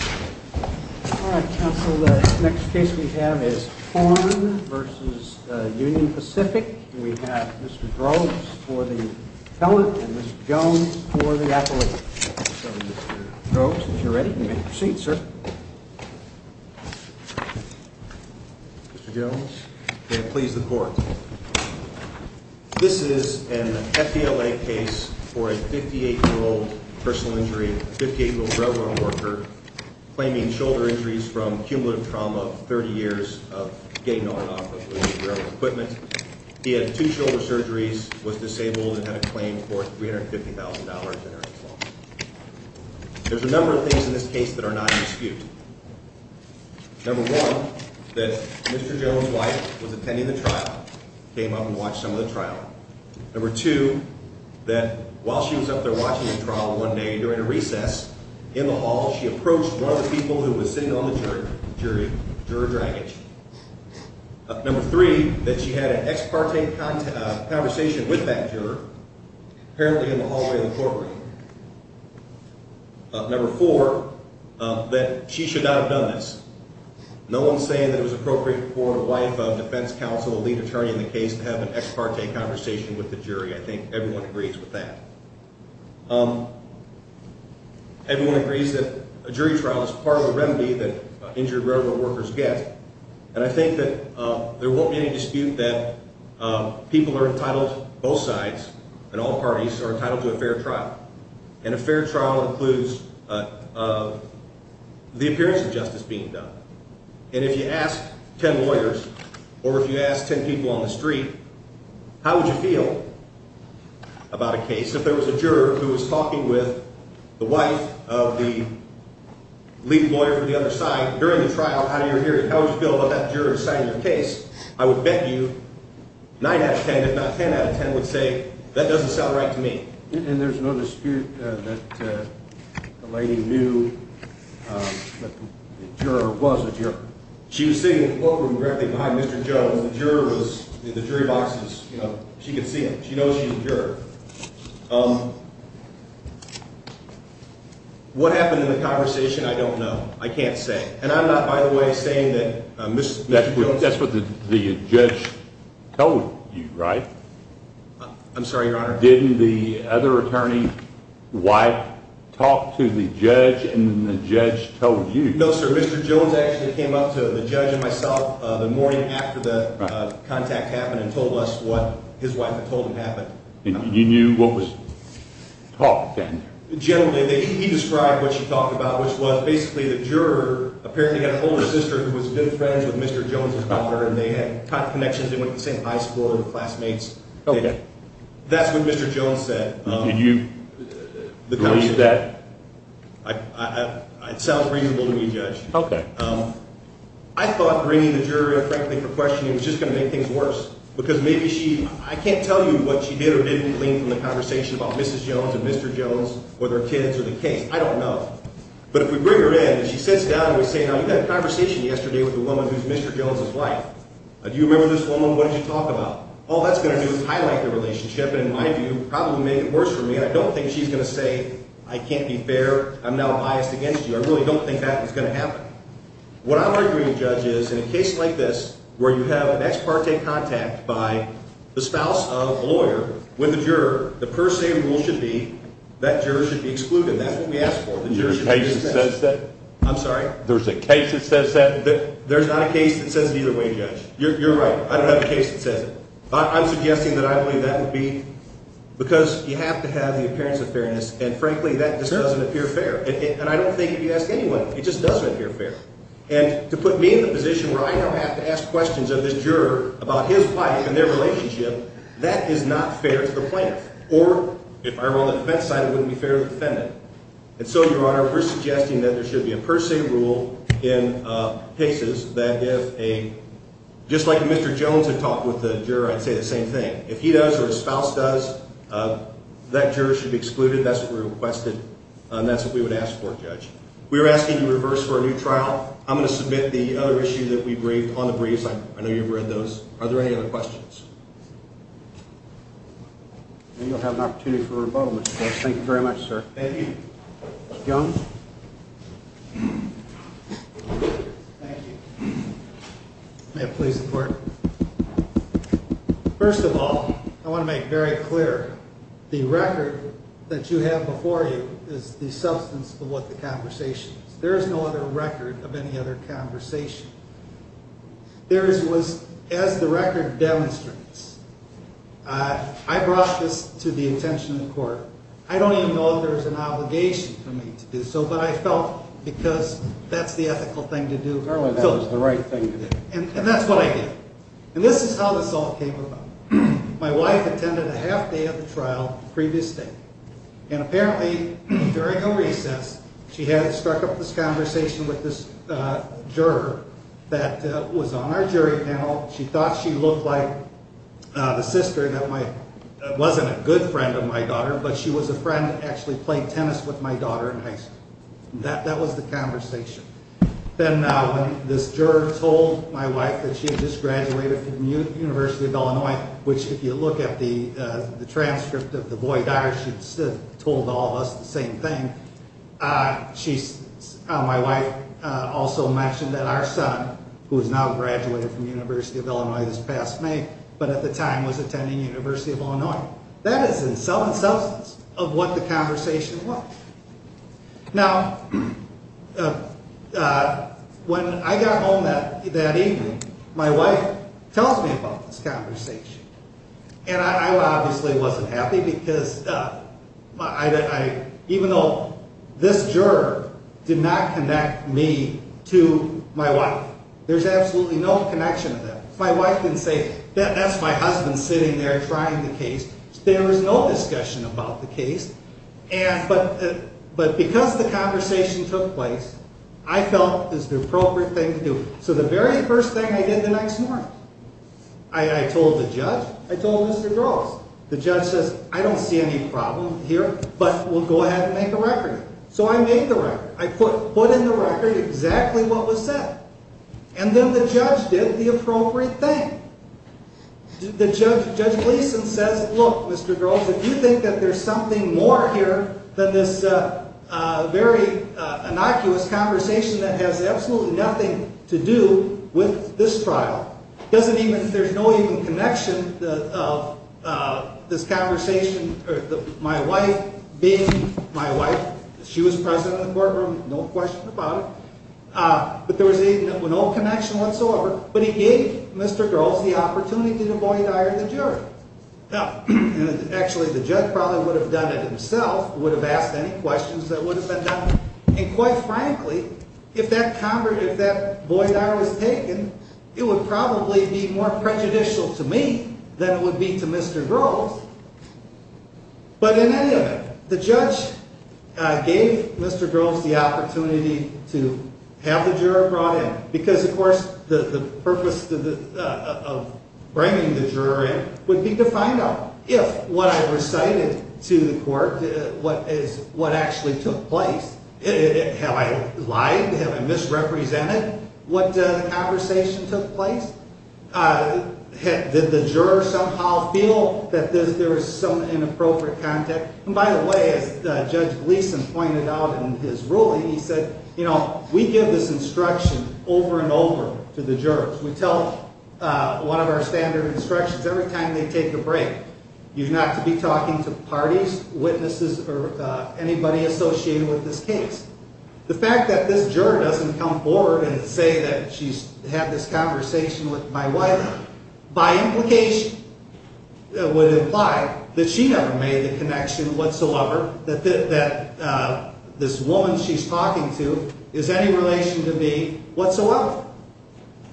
All right, counsel. The next case we have is Horn v. Union Pacific. We have Mr. Groves for the appellate and Mr. Jones for the appellate. So, Mr. Groves, if you're ready, you may proceed, sir. Mr. Jones. May it please the Court. This is an FBLA case for a 58-year-old personal injury, 58-year-old railroad worker, claiming shoulder injuries from cumulative trauma of 30 years of getting on and off the board of railroad equipment. He had two shoulder surgeries, was disabled, and had a claim for $350,000 in arrears. There's a number of things in this case that are not in dispute. Number one, that Mr. Jones' wife was attending the trial, came up and watched some of the trial. Number two, that while she was up there watching the trial one day during a recess, in the hall, she approached one of the people who was sitting on the jury, Juror Dragich. Number three, that she had an ex parte conversation with that juror, apparently in the hallway of the courtroom. Number four, that she should not have done this. No one's saying that it was appropriate for a wife of a defense counsel, a lead attorney in the case, to have an ex parte conversation with the jury. I think everyone agrees with that. Everyone agrees that a jury trial is part of a remedy that injured railroad workers get, and I think that there won't be any dispute that people are entitled, both sides and all parties, are entitled to a fair trial. And a fair trial includes the appearance of justice being done. And if you ask ten lawyers, or if you ask ten people on the street, how would you feel about a case? If there was a juror who was talking with the wife of the lead lawyer from the other side during the trial, how would you feel about that juror deciding your case? I would bet you nine out of ten, if not ten out of ten, would say, that doesn't sound right to me. And there's no dispute that the lady knew that the juror was a juror? She was sitting in the courtroom directly behind Mr. Jones. The juror was in the jury boxes. She could see him. She knows he's a juror. What happened in the conversation, I don't know. I can't say. And I'm not, by the way, saying that Mr. Jones I think that's what the judge told you, right? I'm sorry, Your Honor. Didn't the other attorney's wife talk to the judge and then the judge told you? No, sir. Mr. Jones actually came up to the judge and myself the morning after the contact happened and told us what his wife had told him happened. And you knew what was talked down there? Generally. He described what she talked about, which was basically the juror apparently had an older sister who was good friends with Mr. Jones' daughter. And they had connections. They went to the same high school. They were classmates. OK. That's what Mr. Jones said. Did you believe that? It sounds reasonable to me, Judge. OK. I thought bringing the juror in, frankly, for questioning was just going to make things worse. I can't tell you what she did or didn't believe in the conversation about Mrs. Jones and Mr. Jones or their kids or the case. I don't know. But if we bring her in and she sits down and we say, now, you had a conversation yesterday with a woman who's Mr. Jones' wife. Do you remember this woman? What did you talk about? All that's going to do is highlight the relationship. And in my view, it probably made it worse for me. And I don't think she's going to say, I can't be fair. I really don't think that was going to happen. What I'm arguing, Judge, is in a case like this where you have an ex parte contact by the spouse of a lawyer with a juror, the per se rule should be that juror should be excluded. That's what we ask for. The juror should be exempt. There's a case that says that? I'm sorry? There's a case that says that? There's not a case that says it either way, Judge. You're right. I don't have a case that says it. I'm suggesting that I believe that would be because you have to have the appearance of fairness. And frankly, that just doesn't appear fair. And I don't think if you ask anyone, it just doesn't appear fair. And to put me in the position where I now have to ask questions of this juror about his wife and their relationship, that is not fair to the plaintiff. Or if I were on the defense side, it wouldn't be fair to the defendant. And so, Your Honor, we're suggesting that there should be a per se rule in cases that if a – just like Mr. Jones had talked with the juror, I'd say the same thing. If he does or his spouse does, that juror should be excluded. That's what we requested. And that's what we would ask for, Judge. We're asking you to reverse for a new trial. I'm going to submit the other issue that we braved on the briefs. I know you've read those. Are there any other questions? Then you'll have an opportunity for a rebuttal, Mr. Jones. Thank you very much, sir. Thank you. Mr. Jones? Thank you. May it please the Court. First of all, I want to make very clear, the record that you have before you is the substance of what the conversation is. There is no other record of any other conversation. There is – as the record demonstrates, I brought this to the attention of the Court. I don't even know if there's an obligation for me to do so, but I felt because that's the ethical thing to do. Apparently that was the right thing to do. And that's what I did. And this is how this all came about. My wife attended a half-day of the trial the previous day. And apparently, during a recess, she had struck up this conversation with this juror that was on our jury panel. She thought she looked like the sister that wasn't a good friend of my daughter, but she was a friend that actually played tennis with my daughter in high school. That was the conversation. Then this juror told my wife that she had just graduated from the University of Illinois, which if you look at the transcript of the void diary, she told all of us the same thing. My wife also mentioned that our son, who has now graduated from the University of Illinois this past May, but at the time was attending the University of Illinois. That is in some substance of what the conversation was. Now, when I got home that evening, my wife tells me about this conversation. And I obviously wasn't happy because even though this juror did not connect me to my wife, there's absolutely no connection there. My wife didn't say, that's my husband sitting there trying the case. But because the conversation took place, I felt it was the appropriate thing to do. So the very first thing I did the next morning, I told the judge, I told Mr. Groves. The judge says, I don't see any problem here, but we'll go ahead and make a record. So I made the record. I put in the record exactly what was said. And then the judge did the appropriate thing. Judge Gleason says, look, Mr. Groves, if you think that there's something more here than this very innocuous conversation that has absolutely nothing to do with this trial. There's no even connection of this conversation, my wife being my wife. She was present in the courtroom, no question about it. But there was no connection whatsoever. But he gave Mr. Groves the opportunity to boydire the jury. Now, actually, the judge probably would have done it himself, would have asked any questions that would have been done. And quite frankly, if that boydire was taken, it would probably be more prejudicial to me than it would be to Mr. Groves. But in any event, the judge gave Mr. Groves the opportunity to have the juror brought in. Because, of course, the purpose of bringing the juror in would be to find out if what I recited to the court is what actually took place. Have I lied? Have I misrepresented what the conversation took place? Did the juror somehow feel that there was some inappropriate content? And by the way, as Judge Gleason pointed out in his ruling, he said, you know, we give this instruction over and over to the jurors. We tell one of our standard instructions every time they take a break, you're not to be talking to parties, witnesses, or anybody associated with this case. The fact that this juror doesn't come forward and say that she's had this conversation with my wife, by implication, would imply that she never made the connection whatsoever, that this woman she's talking to is any relation to me whatsoever.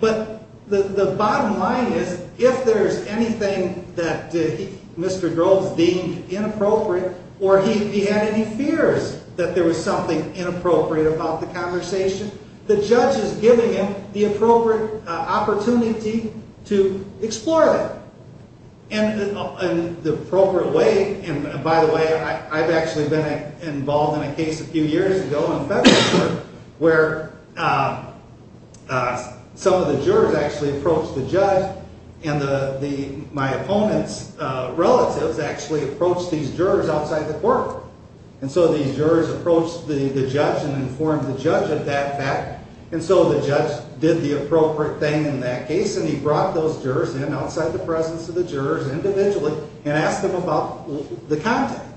But the bottom line is, if there's anything that Mr. Groves deemed inappropriate, or he had any fears that there was something inappropriate about the conversation, the judge is giving him the appropriate opportunity to explore that in the appropriate way. And by the way, I've actually been involved in a case a few years ago in a federal court where some of the jurors actually approached the judge, and my opponent's relatives actually approached these jurors outside the court. And so these jurors approached the judge and informed the judge of that fact, and so the judge did the appropriate thing in that case, and he brought those jurors in outside the presence of the jurors individually and asked them about the contact.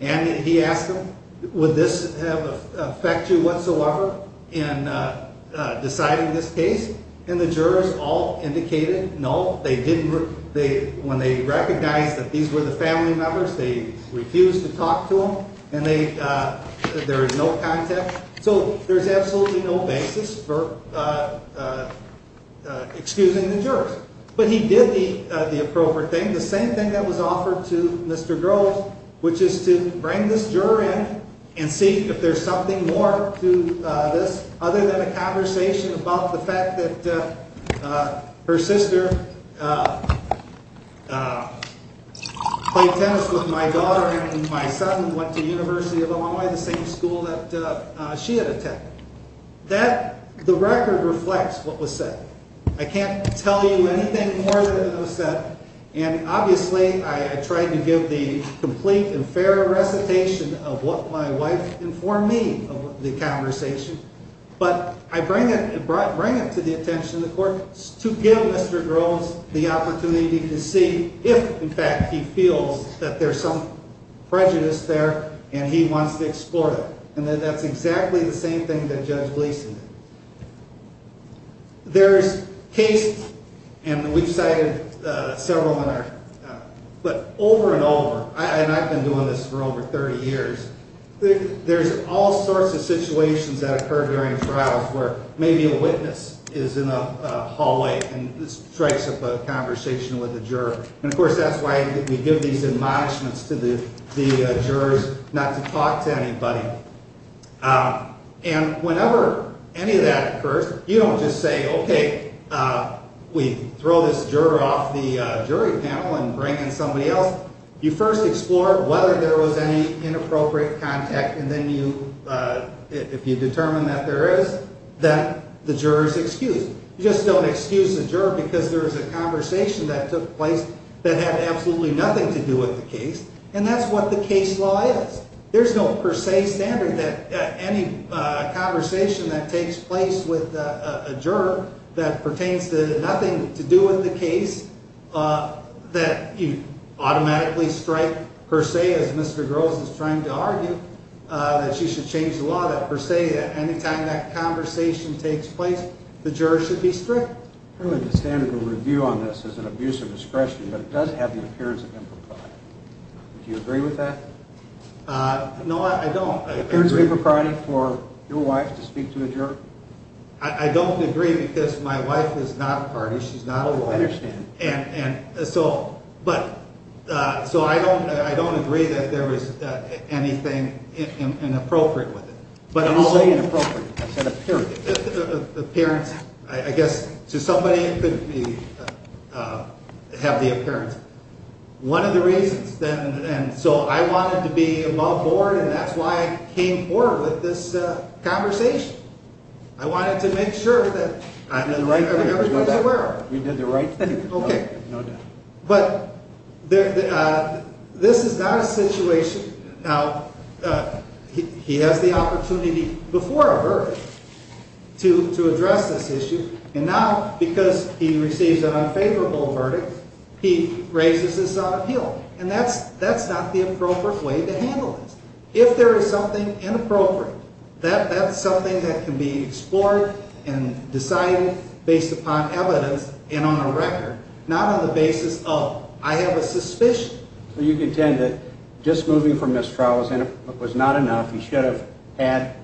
And he asked them, would this affect you whatsoever in deciding this case? And the jurors all indicated no. When they recognized that these were the family members, they refused to talk to them, and there was no contact. So there's absolutely no basis for excusing the jurors. But he did the appropriate thing, the same thing that was offered to Mr. Groves, which is to bring this juror in and see if there's something more to this The record reflects what was said. I can't tell you anything more than what was said, and obviously I tried to give the complete and fair recitation of what my wife informed me of the conversation. But I bring it to the attention of the court to give Mr. Groves the opportunity to see if, in fact, he feels that there's some prejudice there and he wants to explore it. And that's exactly the same thing that Judge Gleason did. There's cases, and we've cited several, but over and over, and I've been doing this for over 30 years, there's all sorts of situations that occur during trials where maybe a witness is in a hallway and strikes up a conversation with a juror. And, of course, that's why we give these admonishments to the jurors not to talk to anybody. And whenever any of that occurs, you don't just say, okay, we throw this juror off the jury panel and bring in somebody else. You first explore whether there was any inappropriate contact, and then if you determine that there is, then the juror is excused. You just don't excuse the juror because there is a conversation that took place that had absolutely nothing to do with the case, and that's what the case law is. There's no per se standard that any conversation that takes place with a juror that pertains to nothing to do with the case, that you automatically strike per se as Mr. Groves is trying to argue that she should change the law, that per se, any time that conversation takes place, the juror should be stripped. I don't understand the review on this as an abuse of discretion, but it does have the appearance of impropriety. Do you agree with that? No, I don't. The appearance of impropriety for your wife to speak to a juror? I don't agree because my wife is not a party. She's not a lawyer. I understand. So I don't agree that there was anything inappropriate with it. When you say inappropriate, I said appearance. Appearance. I guess to somebody it could have the appearance. One of the reasons, and so I wanted to be above board, and that's why I came forward with this conversation. We did the right thing. Okay. No doubt. But this is not a situation. Now, he has the opportunity before a verdict to address this issue, and now because he receives an unfavorable verdict, he raises this on appeal. And that's not the appropriate way to handle this. If there is something inappropriate, that's something that can be explored and decided based upon evidence and on a record, not on the basis of I have a suspicion. So you contend that just moving from this trial was not enough. He should have had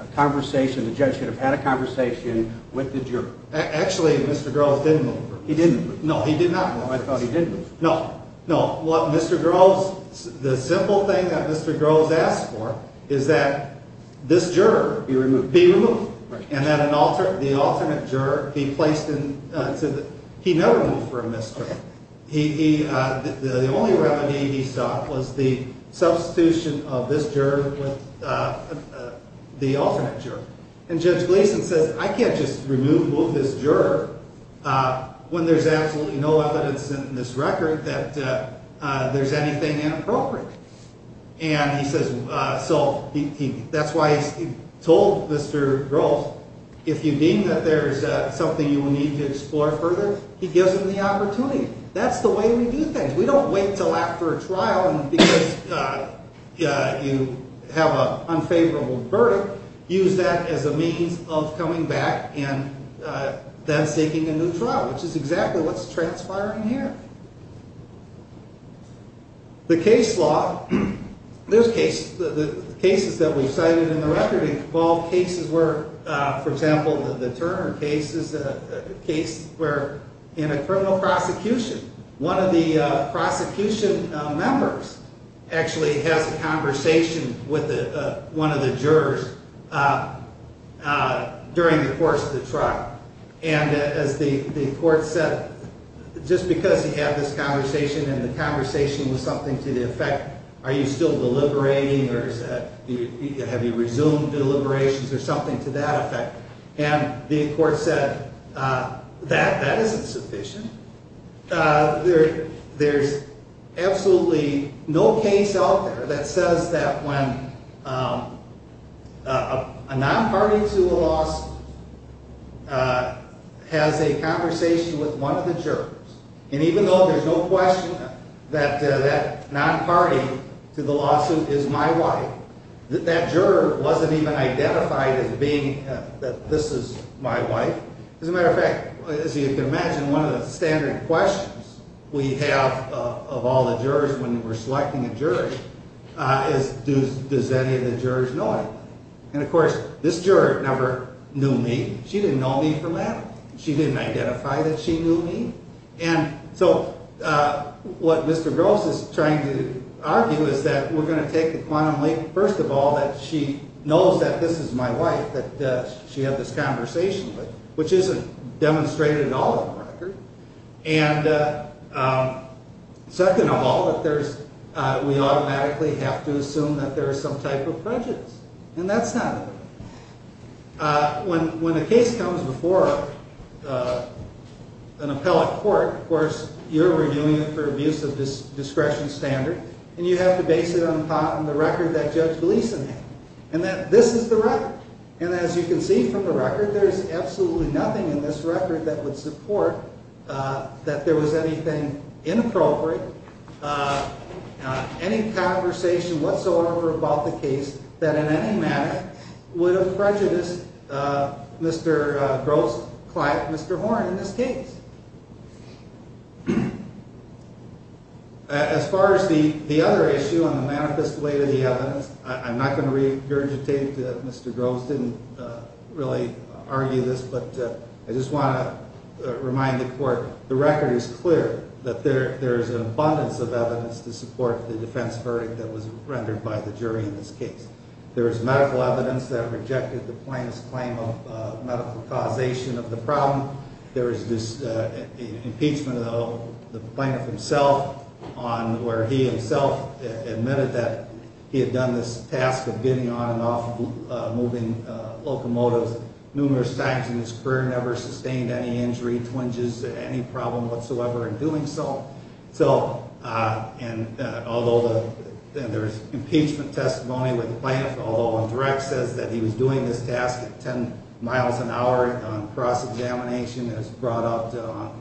a conversation. The judge should have had a conversation with the juror. Actually, Mr. Groves did move. He didn't move. No, he did not move. I thought he did move. No, no. What Mr. Groves – the simple thing that Mr. Groves asked for is that this juror be removed and that the alternate juror be placed in – he never moved for a misdemeanor. The only remedy he sought was the substitution of this juror with the alternate juror. And Judge Gleason says, I can't just remove – move this juror when there's absolutely no evidence in this record that there's anything inappropriate. And he says – so that's why he told Mr. Groves, if you deem that there's something you will need to explore further, he gives him the opportunity. That's the way we do things. We don't wait until after a trial because you have an unfavorable verdict. Use that as a means of coming back and then seeking a new trial, which is exactly what's transpiring here. The case law – there's cases – the cases that we've cited in the record involve cases where, for example, the Turner case is a case where in a criminal prosecution, one of the prosecution members actually has a conversation with one of the jurors during the course of the trial. And as the court said, just because he had this conversation and the conversation was something to the effect, are you still deliberating or is that – have you resumed deliberations or something to that effect? And the court said, that isn't sufficient. There's absolutely no case out there that says that when a non-party to a lawsuit has a conversation with one of the jurors, and even though there's no question that that non-party to the lawsuit is my wife, that that juror wasn't even identified as being – that this is my wife. As a matter of fact, as you can imagine, one of the standard questions we have of all the jurors when we're selecting a juror is, does any of the jurors know it? And of course, this juror never knew me. She didn't know me from that. She didn't identify that she knew me. And so what Mr. Gross is trying to argue is that we're going to take a quantum leap. First of all, that she knows that this is my wife that she had this conversation with, which isn't demonstrated at all in the record. And second of all, that there's – we automatically have to assume that there is some type of prejudice, and that's not it. When a case comes before an appellate court, of course, you're reviewing it for abuse of discretion standard, and you have to base it on the record that Judge Gleeson had, and that this is the record. And as you can see from the record, there's absolutely nothing in this record that would support that there was anything inappropriate, any conversation whatsoever about the case that in any matter would have prejudiced Mr. Gross' client, Mr. Horne, in this case. As far as the other issue on the manifest way to the evidence, I'm not going to regurgitate Mr. Gross didn't really argue this, but I just want to remind the court the record is clear that there is an abundance of evidence to support the defense verdict that was rendered by the jury in this case. There is medical evidence that rejected the plaintiff's claim of medical causation of the problem. There is impeachment of the plaintiff himself, where he himself admitted that he had done this task of getting on and off moving locomotives numerous times in his career, never sustained any injury, twinges, any problem whatsoever in doing so. And although there's impeachment testimony with the plaintiff, although on direct says that he was doing this task at 10 miles an hour on cross examination as brought up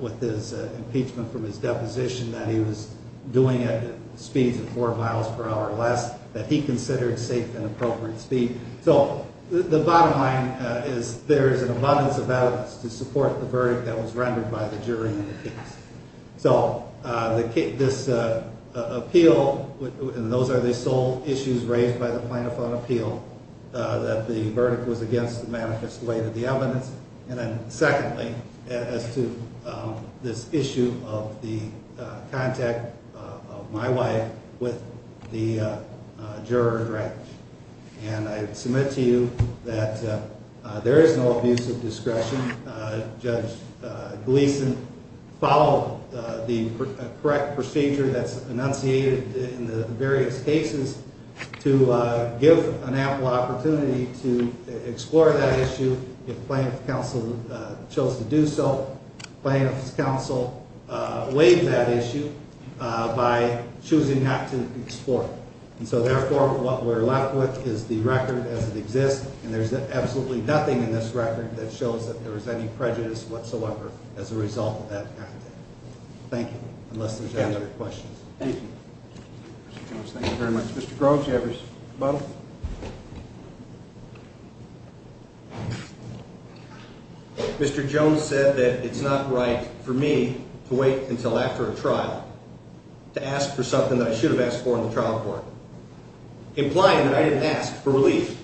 with his impeachment from his deposition that he was doing it at speeds of 4 miles per hour or less that he considered safe and appropriate speed. So the bottom line is there is an abundance of evidence to support the verdict that was rendered by the jury in the case. So this appeal, and those are the sole issues raised by the plaintiff on appeal that the verdict was against the manifest way to the evidence. And then secondly, as to this issue of the contact of my wife with the juror. And I submit to you that there is no abuse of discretion. Judge Gleason followed the correct procedure that's enunciated in the various cases to give an ample opportunity to explore that issue. If plaintiff's counsel chose to do so, plaintiff's counsel weighed that issue by choosing not to explore. And so therefore, what we're left with is the record as it exists. And there's absolutely nothing in this record that shows that there was any prejudice whatsoever as a result of that. Thank you. Unless there's any other questions. Thank you very much. Mr. Mr. Jones said that it's not right for me to wait until after a trial. To ask for something that I should have asked for in the trial court. Implying that I didn't ask for relief.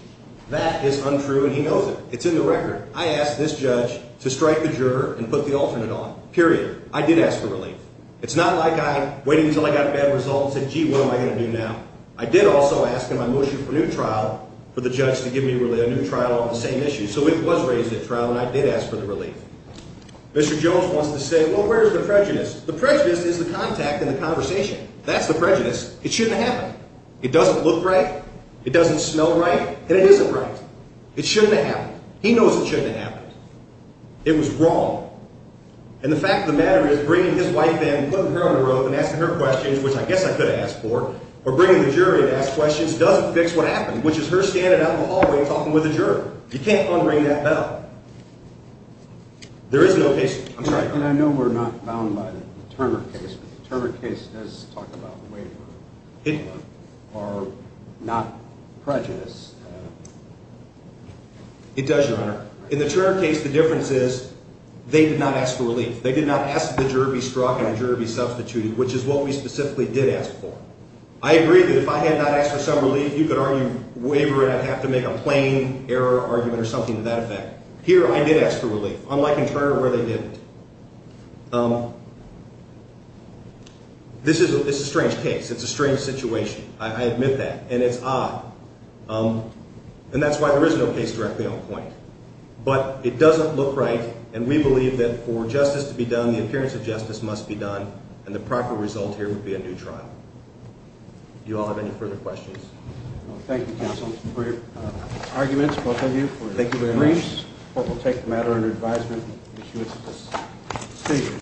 That is untrue and he knows it. It's in the record. I asked this judge to strike the juror and put the alternate on. Period. I did ask for relief. It's not like I waited until I got a bad result and said, gee, what am I going to do now? I did also ask in my motion for new trial for the judge to give me a new trial on the same issue. So it was raised at trial and I did ask for the relief. Mr. Jones wants to say, well, where's the prejudice? The prejudice is the contact in the conversation. That's the prejudice. It shouldn't happen. It doesn't look right. It doesn't smell right. And it isn't right. It shouldn't happen. He knows it shouldn't happen. It was wrong. And the fact of the matter is bringing his wife in, putting her on the road and asking her questions, which I guess I could ask for, or bringing the jury to ask questions doesn't fix what happened, which is her standing out in the hallway and talking with the juror. You can't unring that bell. There is no case. I'm sorry. And I know we're not bound by the Turner case, but the Turner case does talk about waiver or not prejudice. It does, Your Honor. In the Turner case, the difference is they did not ask for relief. They did not ask that the juror be struck and the juror be substituted, which is what we specifically did ask for. I agree that if I had not asked for some relief, you could argue waiver and I'd have to make a plain error argument or something to that effect. Here I did ask for relief, unlike in Turner where they didn't. This is a strange case. It's a strange situation. I admit that, and it's odd. And that's why there is no case directly on point. But it doesn't look right, and we believe that for justice to be done, the appearance of justice must be done, and the proper result here would be a new trial. Do you all have any further questions? Thank you, counsel. Thank you for your arguments, both of you. Thank you very much. We'll take the matter under advisement and issue it at this stage.